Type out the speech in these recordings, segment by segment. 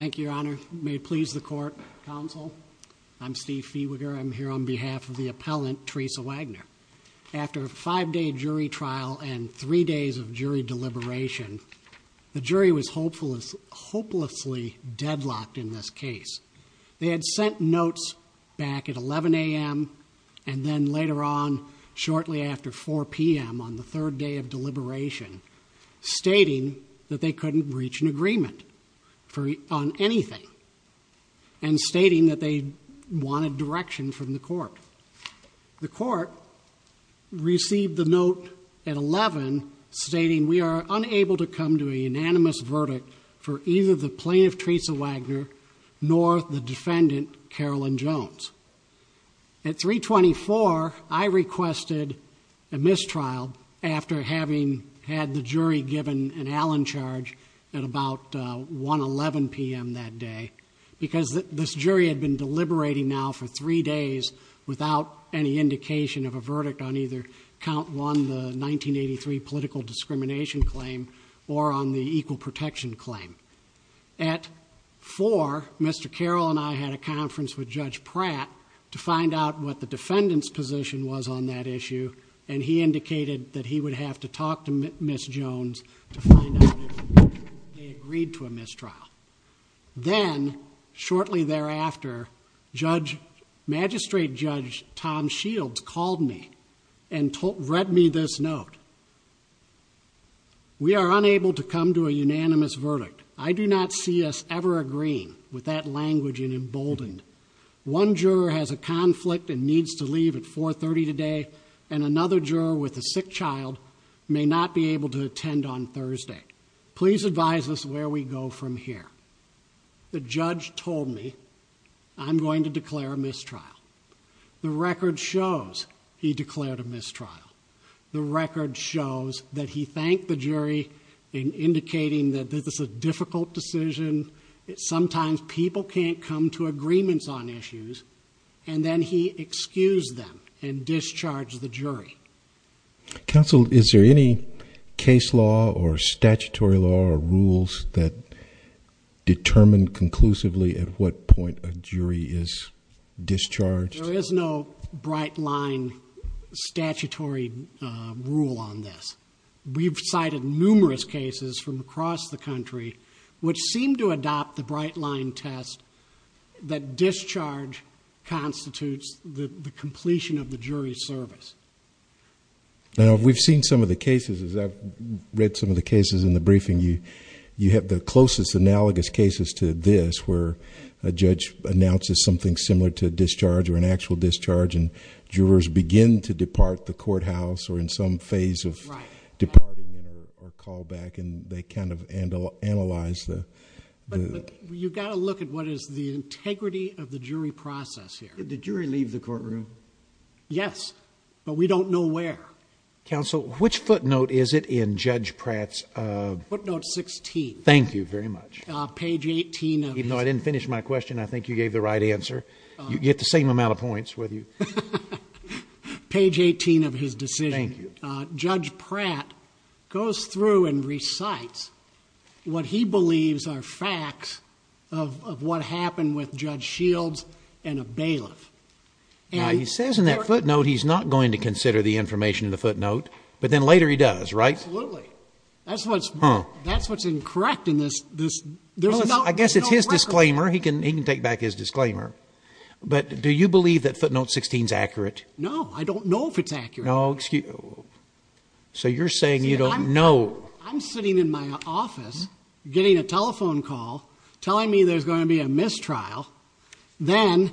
Thank you, Your Honor. May it please the Court, Counsel. I'm Steve Fehwiger. I'm here on behalf of the appellant, Theresa Wagner. After a five-day jury trial and three days of jury deliberation, the jury was hopelessly deadlocked in this case. They had sent notes back at 11 a.m. and then later on, shortly after 4 p.m. on the third day of deliberation, stating that they couldn't reach an agreement on anything and stating that they wanted direction from the Court. The Court received the note at 11 stating, We are unable to come to a unanimous verdict for either the plaintiff, Theresa Wagner, nor the defendant, Carolyn Jones. At 3.24, I requested a mistrial after having had the jury given an Allen charge at about 1.11 p.m. that day because this jury had been deliberating now for three days without any indication of a verdict on either Count 1, the 1983 political discrimination claim, or on the equal protection claim. At 4, Mr. Carroll and I had a conference with Judge Pratt to find out what the defendant's position was on that issue and he indicated that he would have to talk to Ms. Jones to find out if they agreed to a mistrial. Then, shortly thereafter, Magistrate Judge Tom Shields called me and read me this note. We are unable to come to a unanimous verdict. I do not see us ever agreeing with that language in emboldened. One juror has a conflict and needs to leave at 4.30 today and another juror with a sick child may not be able to attend on Thursday. Please advise us where we go from here. The judge told me I'm going to declare a mistrial. The record shows he declared a mistrial. The record shows that he thanked the jury in indicating that this is a difficult decision. Sometimes people can't come to agreements on issues and then he excused them and discharged the jury. Counsel, is there any case law or statutory law or rules that determine conclusively at what point a jury is discharged? There is no bright line statutory rule on this. We've cited numerous cases from across the country which seem to adopt the bright line test that discharge constitutes the completion of the jury's service. We've seen some of the cases. I've read some of the cases in the briefing. You have the closest analogous cases to this where a judge announces something similar to discharge or an actual discharge and jurors begin to depart the courthouse or in some phase of departing or call back and they kind of analyze the... You've got to look at what is the integrity of the jury process here. Did the jury leave the courtroom? Yes, but we don't know where. Counsel, which footnote is it in Judge Pratt's... Footnote 16. Thank you very much. Page 18 of... Even though I didn't finish my question, I think you gave the right answer. You get the same amount of points whether you... Page 18 of his decision. Thank you. Judge Pratt goes through and recites what he believes are facts of what happened with Judge Shields and a bailiff. Now, he says in that footnote he's not going to consider the information in the footnote, but then later he does, right? Absolutely. That's what's incorrect in this... I guess it's his disclaimer. He can take back his disclaimer. But do you believe that footnote 16 is accurate? No, I don't know if it's accurate. No, excuse... So you're saying you don't know. I'm sitting in my office getting a telephone call telling me there's going to be a mistrial. Then,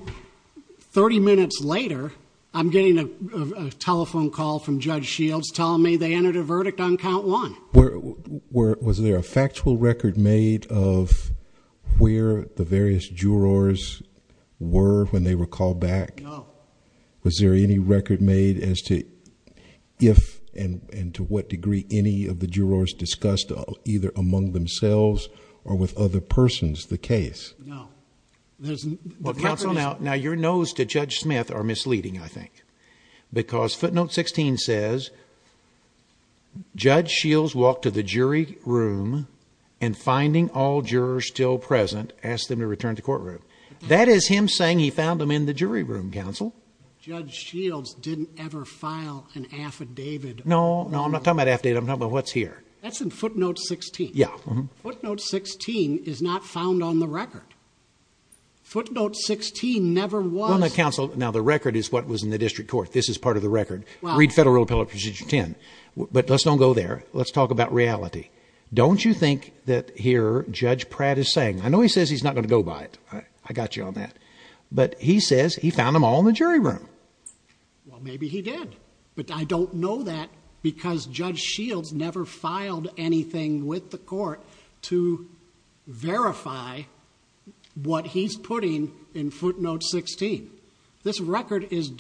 30 minutes later, I'm getting a telephone call from Judge Shields telling me they entered a verdict on count one. Was there a factual record made of where the various jurors were when they were called back? No. Was there any record made as to if and to what degree any of the jurors discussed either among themselves or with other persons the case? No. Now, your no's to Judge Smith are misleading, I think. Because footnote 16 says, Judge Shields walked to the jury room and, finding all jurors still present, asked them to return to the courtroom. That is him saying he found them in the jury room, counsel. Judge Shields didn't ever file an affidavit... No, I'm not talking about an affidavit. I'm talking about what's here. That's in footnote 16. Yeah. Footnote 16 is not found on the record. Footnote 16 never was... Now, counsel, the record is what was in the district court. This is part of the record. Read Federal Rule of Appellate Procedure 10. But, let's not go there. Let's talk about reality. Don't you think that here, Judge Pratt is saying... I know he says he's not going to go by it. I got you on that. But, he says he found them all in the jury room. Well, maybe he did. But, I don't know that because Judge Shields never filed anything with the court... to verify what he's putting in footnote 16. This record is...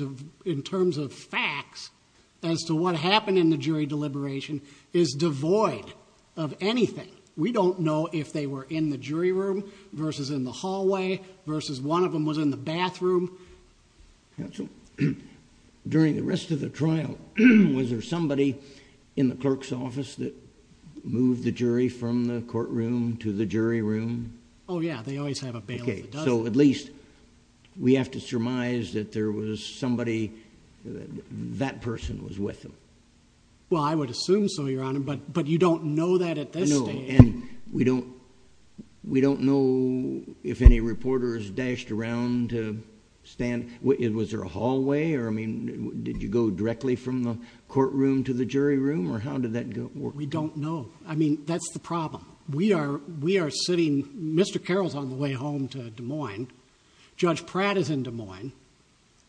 in terms of facts... as to what happened in the jury deliberation... is devoid of anything. We don't know if they were in the jury room... versus in the hallway... versus one of them was in the bathroom. Counsel, during the rest of the trial... was there somebody in the clerk's office... that moved the jury from the courtroom to the jury room? Oh, yeah. They always have a bailiff. Okay. So, at least, we have to surmise that there was somebody... that person was with them. Well, I would assume so, Your Honor. But, you don't know that at this stage. No. And, we don't... We don't know if any reporters dashed around to stand... Was there a hallway? Or, I mean, did you go directly from the courtroom to the jury room? Or, how did that work? We don't know. I mean, that's the problem. We are sitting... Mr. Carroll is on the way home to Des Moines. Judge Pratt is in Des Moines.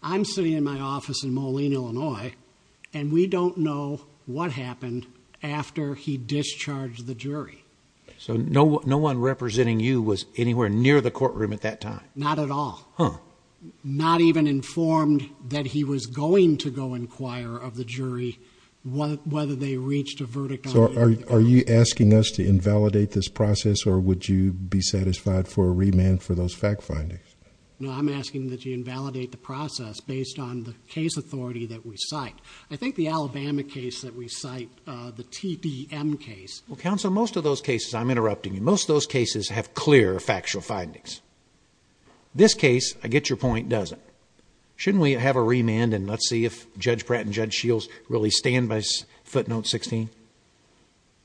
I'm sitting in my office in Moline, Illinois. And, we don't know what happened... after he discharged the jury. So, no one representing you was anywhere near the courtroom at that time? Not at all. Huh. Not even informed that he was going to go inquire of the jury... whether they reached a verdict on him. So, are you asking us to invalidate this process? Or, would you be satisfied for a remand for those fact findings? No, I'm asking that you invalidate the process... based on the case authority that we cite. I think the Alabama case that we cite... the TDM case... Well, Counsel, most of those cases... I'm interrupting you. Most of those cases have clear factual findings. This case, I get your point, doesn't. Shouldn't we have a remand and let's see if Judge Pratt and Judge Shields... really stand by footnote 16?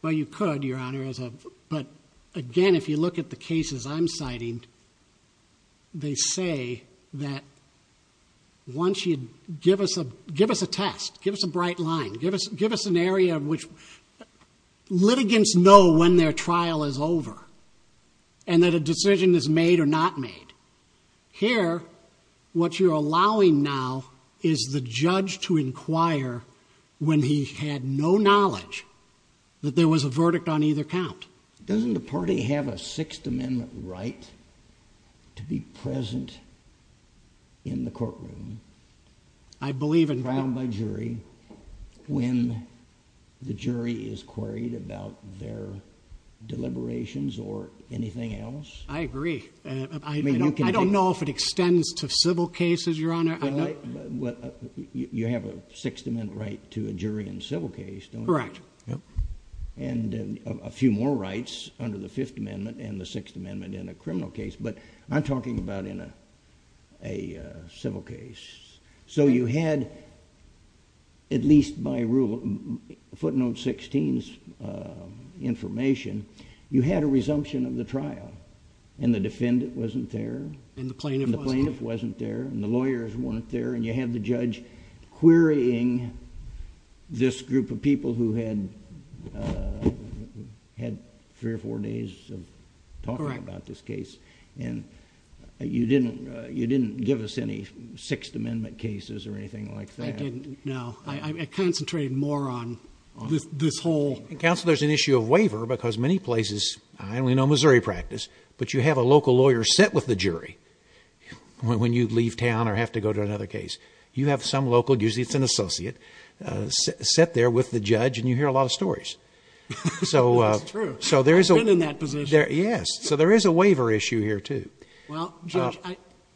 Well, you could, Your Honor. But, again, if you look at the cases I'm citing... they say that... once you give us a... give us a test. Give us a bright line. Give us an area in which... the litigants know when their trial is over... and that a decision is made or not made. Here, what you're allowing now... is the judge to inquire... when he had no knowledge... that there was a verdict on either count. Doesn't the party have a Sixth Amendment right... to be present... in the courtroom... I believe in... is queried about their deliberations or anything else? I agree. I don't know if it extends to civil cases, Your Honor. You have a Sixth Amendment right to a jury in a civil case, don't you? Correct. And, a few more rights under the Fifth Amendment... and the Sixth Amendment in a criminal case. But, I'm talking about in a civil case. So, you had... at least by rule... Footnote 16's information... you had a resumption of the trial. And, the defendant wasn't there. And, the plaintiff wasn't there. And, the plaintiff wasn't there. And, the lawyers weren't there. And, you had the judge querying... this group of people who had... had three or four days of talking about this case. Correct. And, you didn't give us any Sixth Amendment cases or anything like that. I didn't. No. I concentrated more on this whole... Counsel, there's an issue of waiver because many places... I only know Missouri practice... but, you have a local lawyer sit with the jury... when you leave town or have to go to another case. You have some local... usually it's an associate... sit there with the judge and you hear a lot of stories. That's true. So, there is a... I've been in that position. Yes. So, there is a waiver issue here, too. Well, Judge,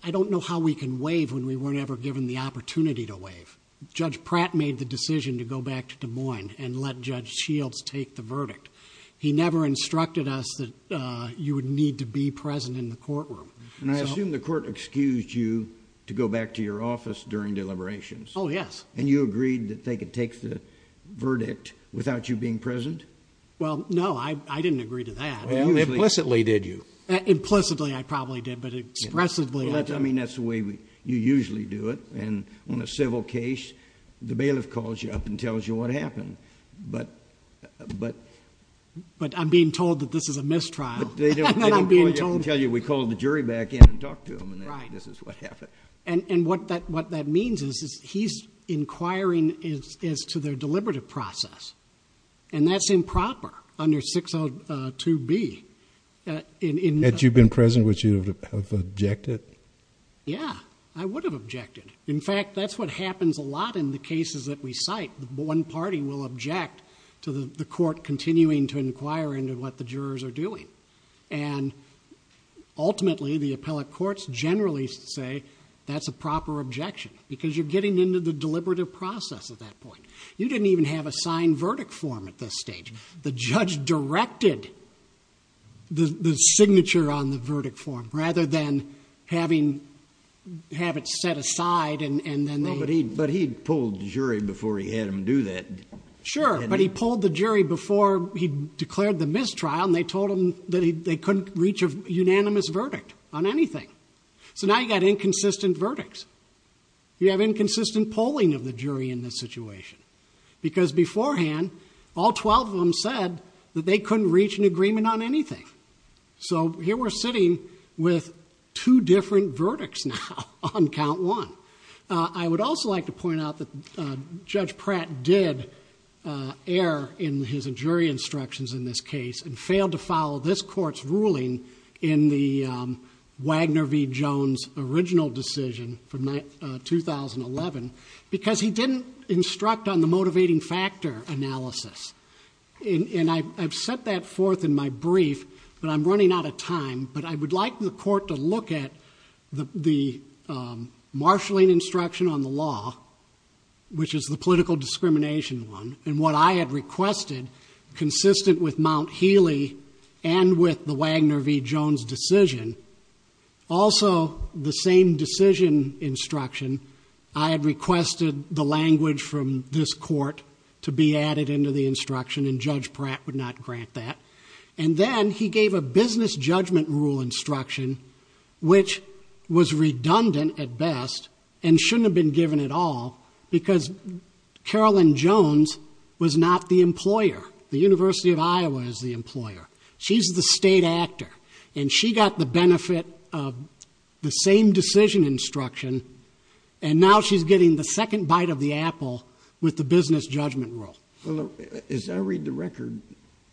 I don't know how we can waive when we weren't ever given the opportunity to waive. Judge Pratt made the decision to go back to Des Moines and let Judge Shields take the verdict. He never instructed us that you would need to be present in the courtroom. And, I assume the court excused you to go back to your office during deliberations. Oh, yes. And, you agreed that they could take the verdict without you being present? Well, no. I didn't agree to that. Implicitly, did you? Implicitly, I probably did. But, expressively... I mean, that's the way you usually do it. And, on a civil case, the bailiff calls you up and tells you what happened. But... But, I'm being told that this is a mistrial. And, I'm being told... They don't call you up and tell you, we called the jury back in and talked to them. Right. And, this is what happened. And, what that means is he's inquiring as to their deliberative process. And, that's improper under 602B. Had you been present, would you have objected? Yeah. I would have objected. In fact, that's what happens a lot in the cases that we cite. One party will object to the court continuing to inquire into what the jurors are doing. And, ultimately, the appellate courts generally say, that's a proper objection. Because, you're getting into the deliberative process at that point. You didn't even have a signed verdict form at this stage. The judge directed the signature on the verdict form rather than have it set aside. But, he pulled the jury before he had them do that. Sure. But, he pulled the jury before he declared the mistrial. And, they told him that they couldn't reach a unanimous verdict on anything. So, now you've got inconsistent verdicts. You have inconsistent polling of the jury in this situation. Because, beforehand, all 12 of them said that they couldn't reach an agreement on anything. So, here we're sitting with two different verdicts now on count one. I would also like to point out that Judge Pratt did err in his jury instructions in this case. And, failed to follow this court's ruling in the Wagner v. Jones original decision from 2011. Because, he didn't instruct on the motivating factor analysis. And, I've set that forth in my brief. But, I'm running out of time. But, I would like the court to look at the marshalling instruction on the law, which is the political discrimination one. And, what I had requested, consistent with Mount Healy and with the Wagner v. Jones decision. Also, the same decision instruction, I had requested the language from this court to be added into the instruction. And, Judge Pratt would not grant that. And then, he gave a business judgment rule instruction, which was redundant at best. And, shouldn't have been given at all. Because, Carolyn Jones was not the employer. The University of Iowa is the employer. She's the state actor. And, she got the benefit of the same decision instruction. And now, she's getting the second bite of the apple with the business judgment rule. As I read the record,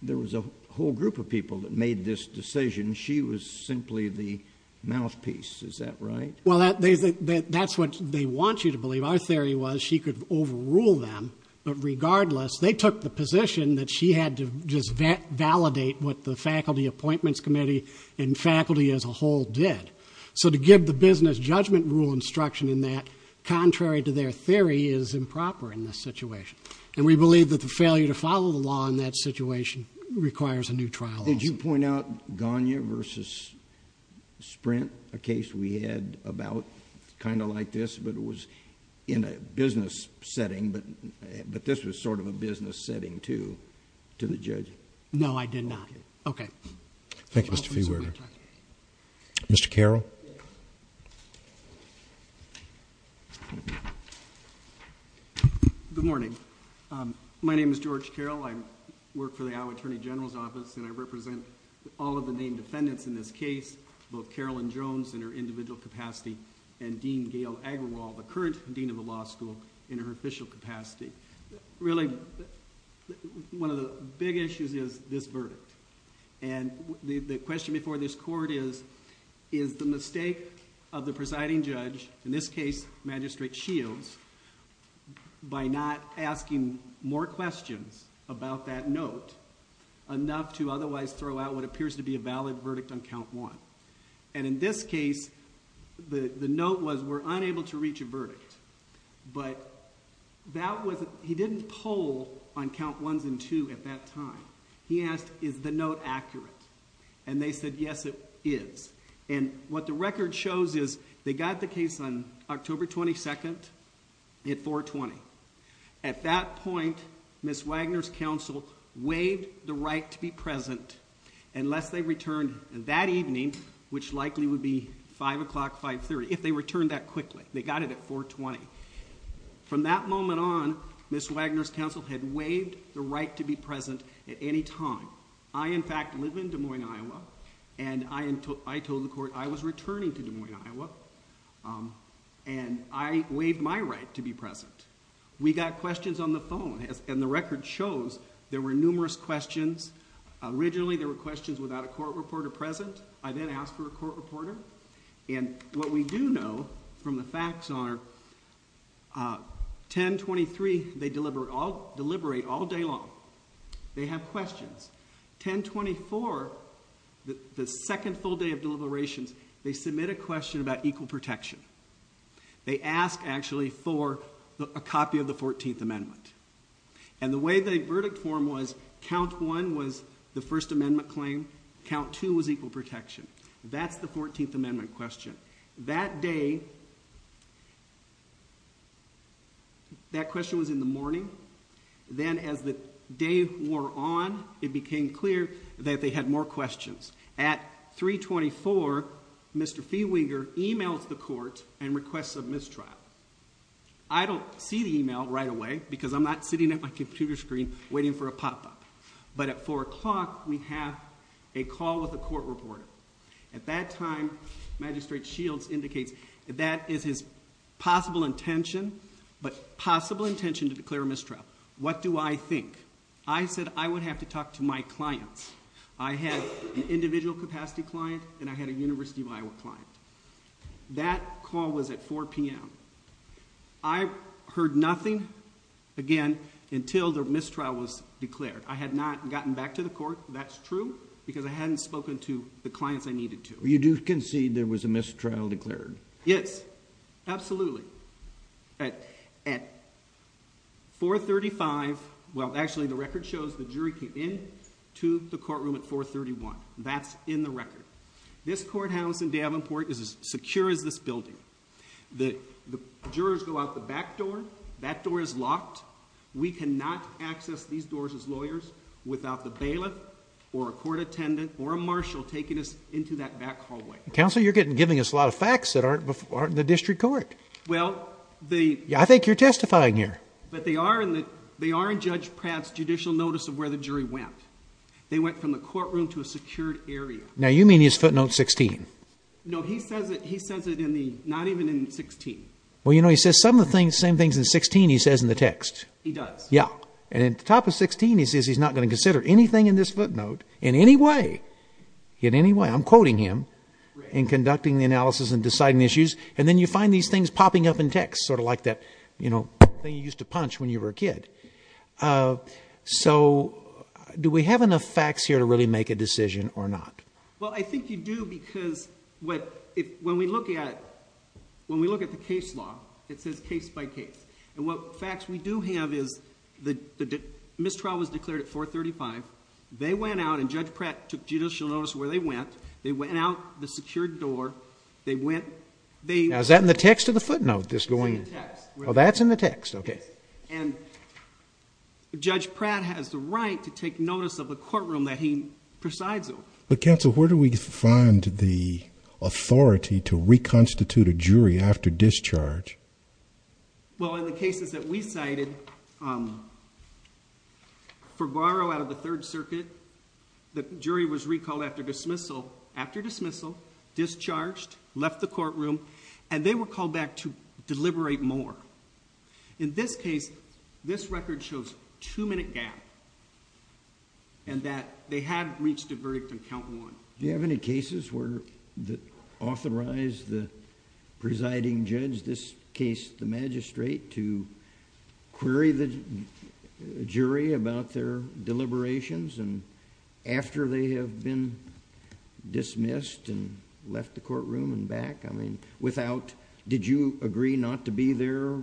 there was a whole group of people that made this decision. She was simply the mouthpiece. Is that right? Well, that's what they want you to believe. Our theory was she could overrule them. But, regardless, they took the position that she had to just validate what the Faculty Appointments Committee and faculty as a whole did. So, to give the business judgment rule instruction in that, contrary to their theory, is improper in this situation. And, we believe that the failure to follow the law in that situation requires a new trial also. Did you point out Gagnon versus Sprint? A case we had about kind of like this, but it was in a business setting. But, this was sort of a business setting too, to the judge. No, I did not. Okay. Thank you, Mr. Feewer. Mr. Carroll. Good morning. My name is George Carroll. I work for the Iowa Attorney General's Office. And, I represent all of the named defendants in this case, both Carolyn Jones in her individual capacity and Dean Gail Agrawal, the current dean of the law school, in her official capacity. Really, one of the big issues is this verdict. And, the question before this court is, is the mistake of the presiding judge, in this case, Magistrate Shields, by not asking more questions about that note enough to otherwise throw out what appears to be a valid verdict on count one. And, in this case, the note was, we're unable to reach a verdict. But, he didn't poll on count ones and two at that time. He asked, is the note accurate? And, they said, yes, it is. And, what the record shows is, they got the case on October 22nd at 420. At that point, Ms. Wagner's counsel waived the right to be present unless they returned that evening, which likely would be 5 o'clock, 530, if they returned that quickly. They got it at 420. From that moment on, Ms. Wagner's counsel had waived the right to be present at any time. I, in fact, live in Des Moines, Iowa. And, I told the court I was returning to Des Moines, Iowa. And, I waived my right to be present. We got questions on the phone. And, the record shows there were numerous questions. Originally, there were questions without a court reporter present. I then asked for a court reporter. And, what we do know from the facts are, 10-23, they deliberate all day long. They have questions. 10-24, the second full day of deliberations, they submit a question about equal protection. They ask, actually, for a copy of the 14th Amendment. And, the way the verdict form was, count one was the First Amendment claim. Count two was equal protection. That's the 14th Amendment question. That day, that question was in the morning. Then, as the day wore on, it became clear that they had more questions. At 324, Mr. Feewinger emails the court and requests a mistrial. I don't see the email right away because I'm not sitting at my computer screen waiting for a pop-up. But, at 4 o'clock, we have a call with a court reporter. At that time, Magistrate Shields indicates that that is his possible intention. But, possible intention to declare a mistrial. What do I think? I said I would have to talk to my clients. I had an individual capacity client and I had a University of Iowa client. That call was at 4 p.m. I heard nothing, again, until the mistrial was declared. I had not gotten back to the court, that's true, because I hadn't spoken to the clients I needed to. You do concede there was a mistrial declared? Yes, absolutely. At 435, well, actually, the record shows the jury came in to the courtroom at 431. That's in the record. This courthouse in Davenport is as secure as this building. That door is locked. We cannot access these doors as lawyers without the bailiff or a court attendant or a marshal taking us into that back hallway. Counselor, you're giving us a lot of facts that aren't in the district court. Well, they... I think you're testifying here. But, they are in Judge Pratt's judicial notice of where the jury went. They went from the courtroom to a secured area. Now, you mean he's footnote 16. No, he says it not even in 16. Well, you know, he says some of the same things in 16 he says in the text. He does. Yeah. And at the top of 16, he says he's not going to consider anything in this footnote in any way, in any way. I'm quoting him in conducting the analysis and deciding the issues. And then you find these things popping up in text, sort of like that, you know, thing you used to punch when you were a kid. So, do we have enough facts here to really make a decision or not? Well, I think you do because when we look at the case law, it says case by case. And what facts we do have is the mistrial was declared at 435. They went out and Judge Pratt took judicial notice of where they went. They went out the secured door. They went... Now, is that in the text of the footnote, this going... It's in the text. Oh, that's in the text. Okay. And Judge Pratt has the right to take notice of the courtroom that he presides over. But, counsel, where do we find the authority to reconstitute a jury after discharge? Well, in the cases that we cited, for Guaro out of the Third Circuit, the jury was recalled after dismissal, after dismissal, discharged, left the courtroom, and they were called back to deliberate more. In this case, this record shows two-minute gap and that they had reached a verdict on count one. Do you have any cases where, that authorized the presiding judge, this case the magistrate, to query the jury about their deliberations after they have been dismissed and left the courtroom and back? I mean, without... Did you agree not to be there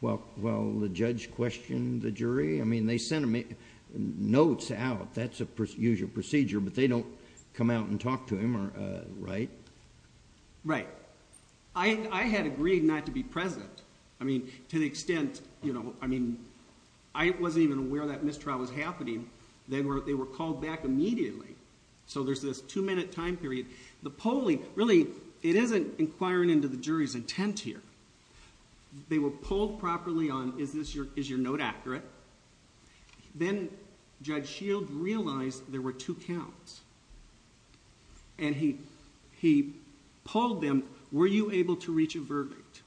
while the judge questioned the jury? I mean, they sent notes out. That's a usual procedure, but they don't come out and talk to him, right? Right. I had agreed not to be present. I mean, to the extent, you know, I mean, I wasn't even aware that mistrial was happening. They were called back immediately. So there's this two-minute time period. The polling, really, it isn't inquiring into the jury's intent here. They were polled properly on, is your note accurate? Then Judge Shield realized there were two counts. And he polled them, were you able to reach a verdict?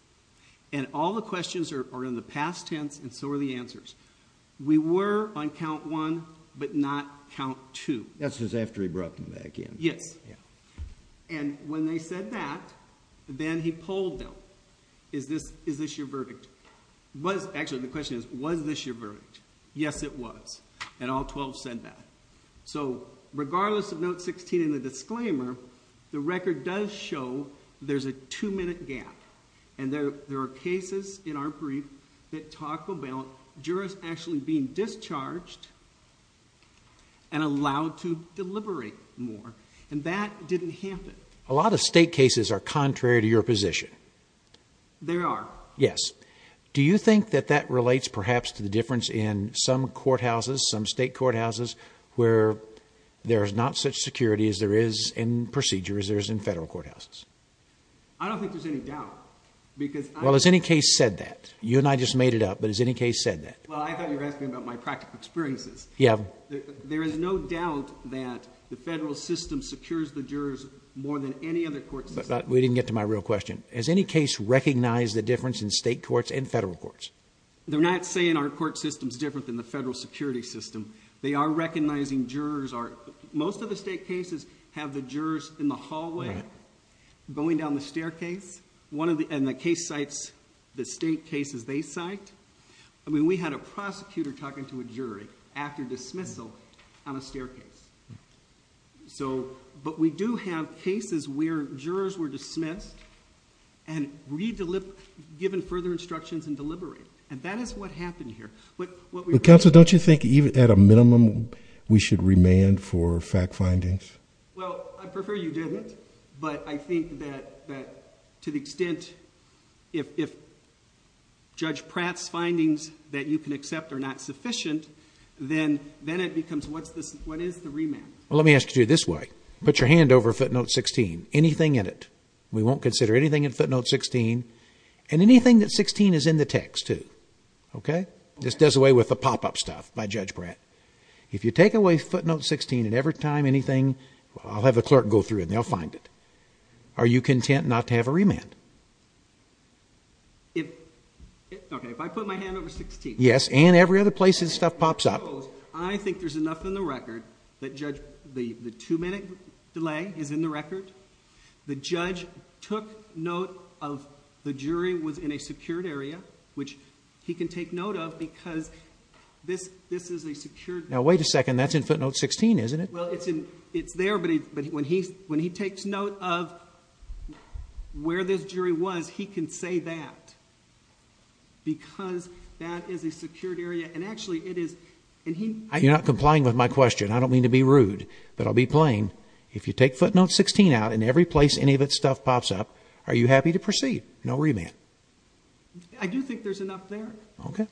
And all the questions are in the past tense and so are the answers. We were on count one, but not count two. That's just after he brought them back in. Yes. And when they said that, then he polled them. Is this your verdict? Actually, the question is, was this your verdict? Yes, it was. And all 12 said that. So regardless of note 16 in the disclaimer, the record does show there's a two-minute gap. And there are cases in our brief that talk about jurors actually being discharged and allowed to deliberate more. And that didn't happen. A lot of state cases are contrary to your position. They are. Yes. Do you think that that relates perhaps to the difference in some courthouses, some state courthouses, where there's not such security as there is in procedures as there is in federal courthouses? I don't think there's any doubt. Well, has any case said that? You and I just made it up, but has any case said that? Well, I thought you were asking about my practical experiences. Yeah. There is no doubt that the federal system secures the jurors more than any other court system. We didn't get to my real question. Has any case recognized the difference in state courts and federal courts? They're not saying our court system is different than the federal security system. They are recognizing jurors are... Most of the state cases have the jurors in the hallway going down the staircase. And the case cites the state cases they cite. I mean, we had a prosecutor talking to a jury after dismissal on a staircase. But we do have cases where jurors were dismissed and given further instructions and deliberated. And that is what happened here. Counsel, don't you think even at a minimum we should remand for fact findings? Well, I prefer you didn't, but I think that to the extent... If Pratt's findings that you can accept are not sufficient, then it becomes what is the remand? Well, let me ask you this way. Put your hand over footnote 16. Anything in it. We won't consider anything in footnote 16. And anything that 16 is in the text, too. Okay? This does away with the pop-up stuff by Judge Pratt. If you take away footnote 16 and every time anything... I'll have the clerk go through it and they'll find it. Are you content not to have a remand? Okay, if I put my hand over 16... Yes, and every other place his stuff pops up. I think there's enough in the record that the two-minute delay is in the record. The judge took note of the jury was in a secured area, which he can take note of because this is a secured... Now, wait a second. That's in footnote 16, isn't it? Well, it's there, but when he takes note of where this jury was, he can say that because that is a secured area. And actually, it is... You're not complying with my question. I don't mean to be rude, but I'll be plain. If you take footnote 16 out and every place any of its stuff pops up, are you happy to proceed? No remand. I do think there's enough there. Okay.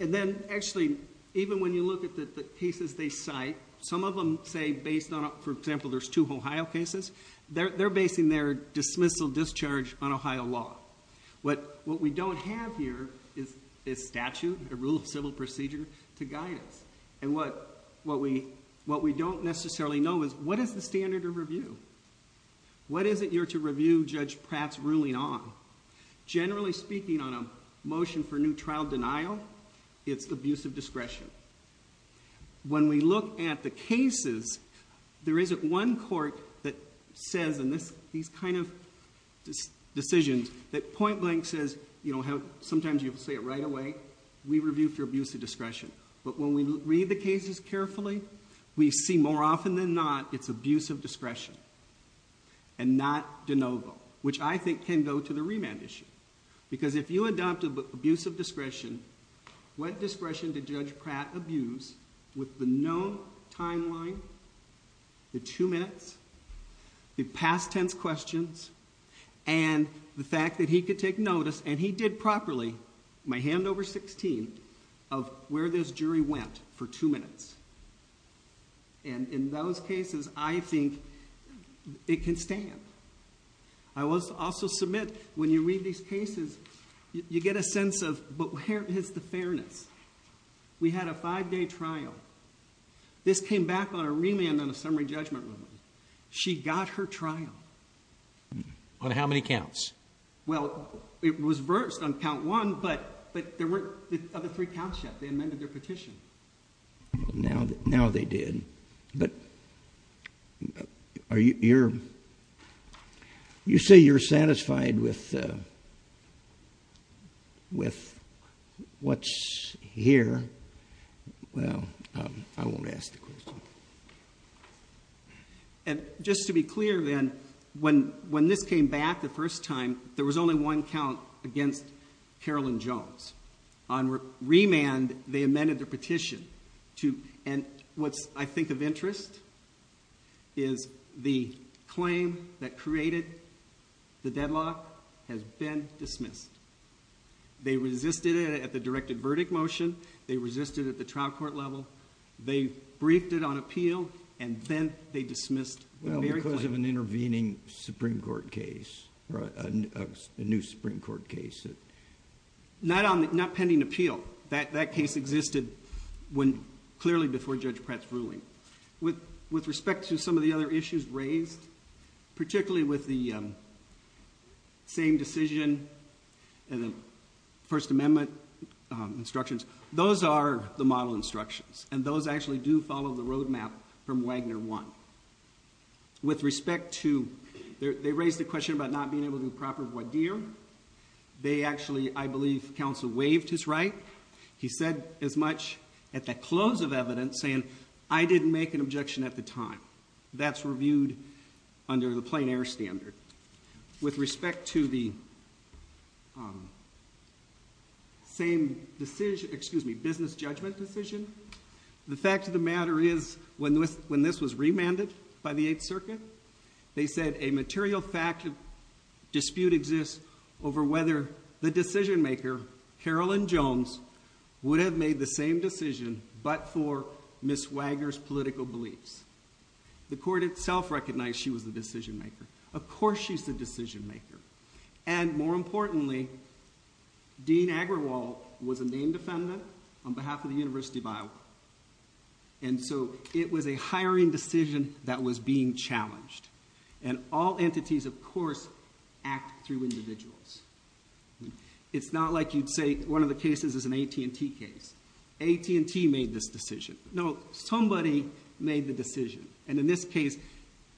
And then, actually, even when you look at the cases they cite, some of them say based on... For example, there's two Ohio cases. They're basing their dismissal discharge on Ohio law. What we don't have here is statute, a rule of civil procedure to guide us. And what we don't necessarily know is what is the standard of review? What is it you're to review Judge Pratt's ruling on? Generally speaking, on a motion for new trial denial, it's abuse of discretion. When we look at the cases, there isn't one court that says in these kind of decisions that point blank says... You know how sometimes you have to say it right away. We review for abuse of discretion. But when we read the cases carefully, we see more often than not, it's abuse of discretion and not de novo, which I think can go to the remand issue. Because if you adopt abuse of discretion, what discretion did Judge Pratt abuse with the known timeline? The two minutes? The past tense questions? And the fact that he could take notice and he did properly, my hand over 16, of where this jury went for two minutes. And in those cases, I think it can stand. I will also submit, when you read these cases, you get a sense of, but where is the fairness? We had a five-day trial. This came back on a remand on a summary judgment ruling. She got her trial. On how many counts? Well, it was versed on count one, but there weren't the other three counts yet. They amended their petition. Now they did. But you say you're satisfied with what's here. Well, I won't ask the question. Just to be clear then, when this came back the first time, there was only one count against Carolyn Jones. On remand, they amended their petition. And what's, I think, of interest is the claim that created the deadlock has been dismissed. They resisted it at the directed verdict motion. They resisted it at the trial court level. They briefed it on appeal, and then they dismissed the very claim. Well, because of an intervening Supreme Court case, a new Supreme Court case. Not pending appeal. That case existed clearly before Judge Pratt's ruling. With respect to some of the other issues raised, particularly with the same decision and the First Amendment instructions, those are the model instructions, and those actually do follow the roadmap from Wagner 1. With respect to, they raised the question about not being able to do proper voir dire. They actually, I believe, counsel waived his right. He said as much at the close of evidence, saying, I didn't make an objection at the time. That's reviewed under the plain air standard. With respect to the same decision, excuse me, business judgment decision, the fact of the matter is when this was remanded by the Eighth Circuit, they said a material fact dispute exists over whether the decision maker, Carolyn Jones, would have made the same decision but for Ms. Wagner's political beliefs. The court itself recognized she was the decision maker. Of course she's the decision maker. And more importantly, Dean Agrawal was a named defendant on behalf of the University of Iowa. And so it was a hiring decision that was being challenged. And all entities, of course, act through individuals. It's not like you'd say one of the cases is an AT&T case. AT&T made this decision. No, somebody made the decision. And in this case,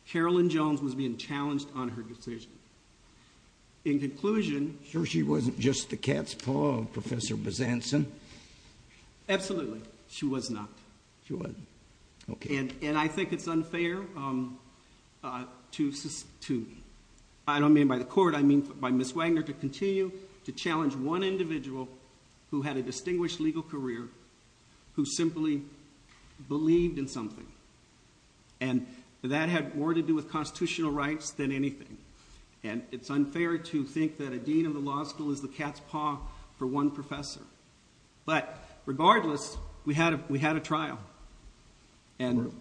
Carolyn Jones was being challenged on her decision. In conclusion... Is this just the cat's paw of Professor Besantzen? Absolutely. She was not. She wasn't. Okay. And I think it's unfair to, I don't mean by the court, I mean by Ms. Wagner, to continue to challenge one individual who had a distinguished legal career, who simply believed in something. And that had more to do with constitutional rights than anything. And it's unfair to think that a dean of the law school is the cat's paw for one professor. But regardless, we had a trial. And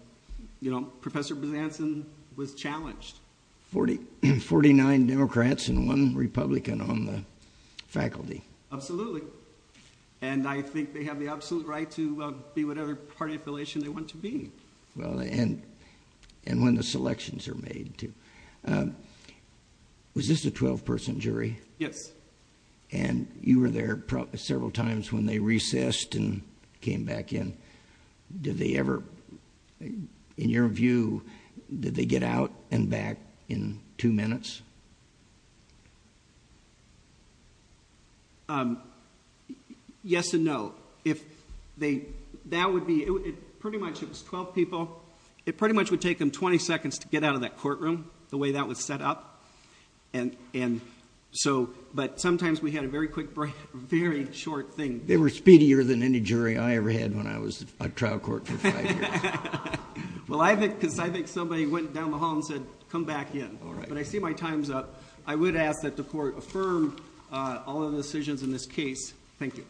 Professor Besantzen was challenged. Forty-nine Democrats and one Republican on the faculty. Absolutely. And I think they have the absolute right to be whatever party affiliation they want to be. And when the selections are made, too. Was this a 12-person jury? Yes. And you were there several times when they recessed and came back in. Did they ever, in your view, did they get out and back in two minutes? Yes and no. That would be, pretty much it was 12 people. It pretty much would take them 20 seconds to get out of that courtroom, the way that was set up. But sometimes we had a very quick break, a very short thing. They were speedier than any jury I ever had when I was on trial court for five years. Well, I think somebody went down the hall and said, come back in. But I see my time's up. I would ask that the court affirm all of the decisions in this case. Thank you.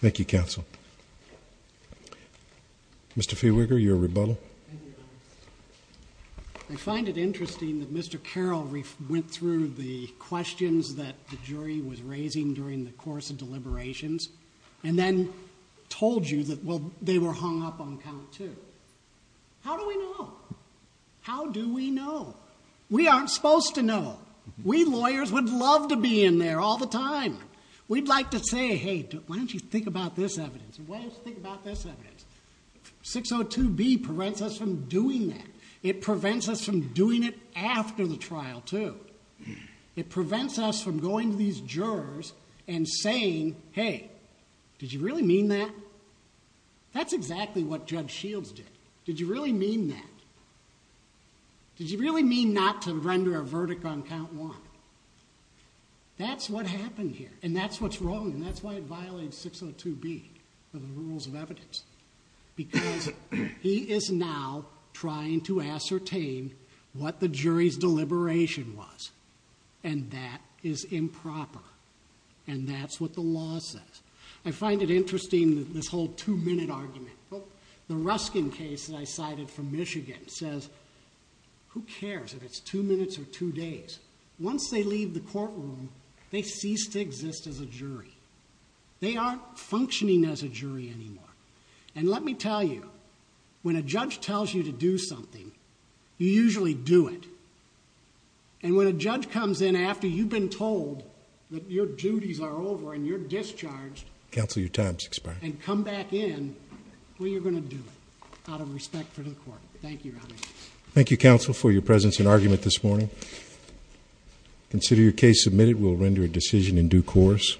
Thank you, counsel. Mr. Fiewiker, your rebuttal. I find it interesting that Mr. Carroll went through the questions that the jury was raising during the course of deliberations and then told you that, well, they were hung up on count two. How do we know? How do we know? We aren't supposed to know. We lawyers would love to be in there all the time. We'd like to say, hey, why don't you think about this evidence? Why don't you think about this evidence? 602B prevents us from doing that. It prevents us from doing it after the trial, too. It prevents us from going to these jurors and saying, hey, did you really mean that? That's exactly what Judge Shields did. Did you really mean that? Did you really mean not to render a verdict on count one? That's what happened here. And that's what's wrong. And that's why it violates 602B, the rules of evidence. Because he is now trying to ascertain what the jury's deliberation was. And that is improper. And that's what the law says. I find it interesting, this whole two-minute argument. The Ruskin case that I cited from Michigan says, who cares if it's two minutes or two days? Once they leave the courtroom, they cease to exist as a jury. They aren't functioning as a jury anymore. And let me tell you, when a judge tells you to do something, you usually do it. And when a judge comes in after you've been told that your duties are over and you're discharged... Counsel, your time has expired. And come back in, well, you're going to do it, out of respect for the court. Thank you, Your Honor. Thank you, Counsel, for your presence in argument this morning. Consider your case submitted. We'll render a decision in due course.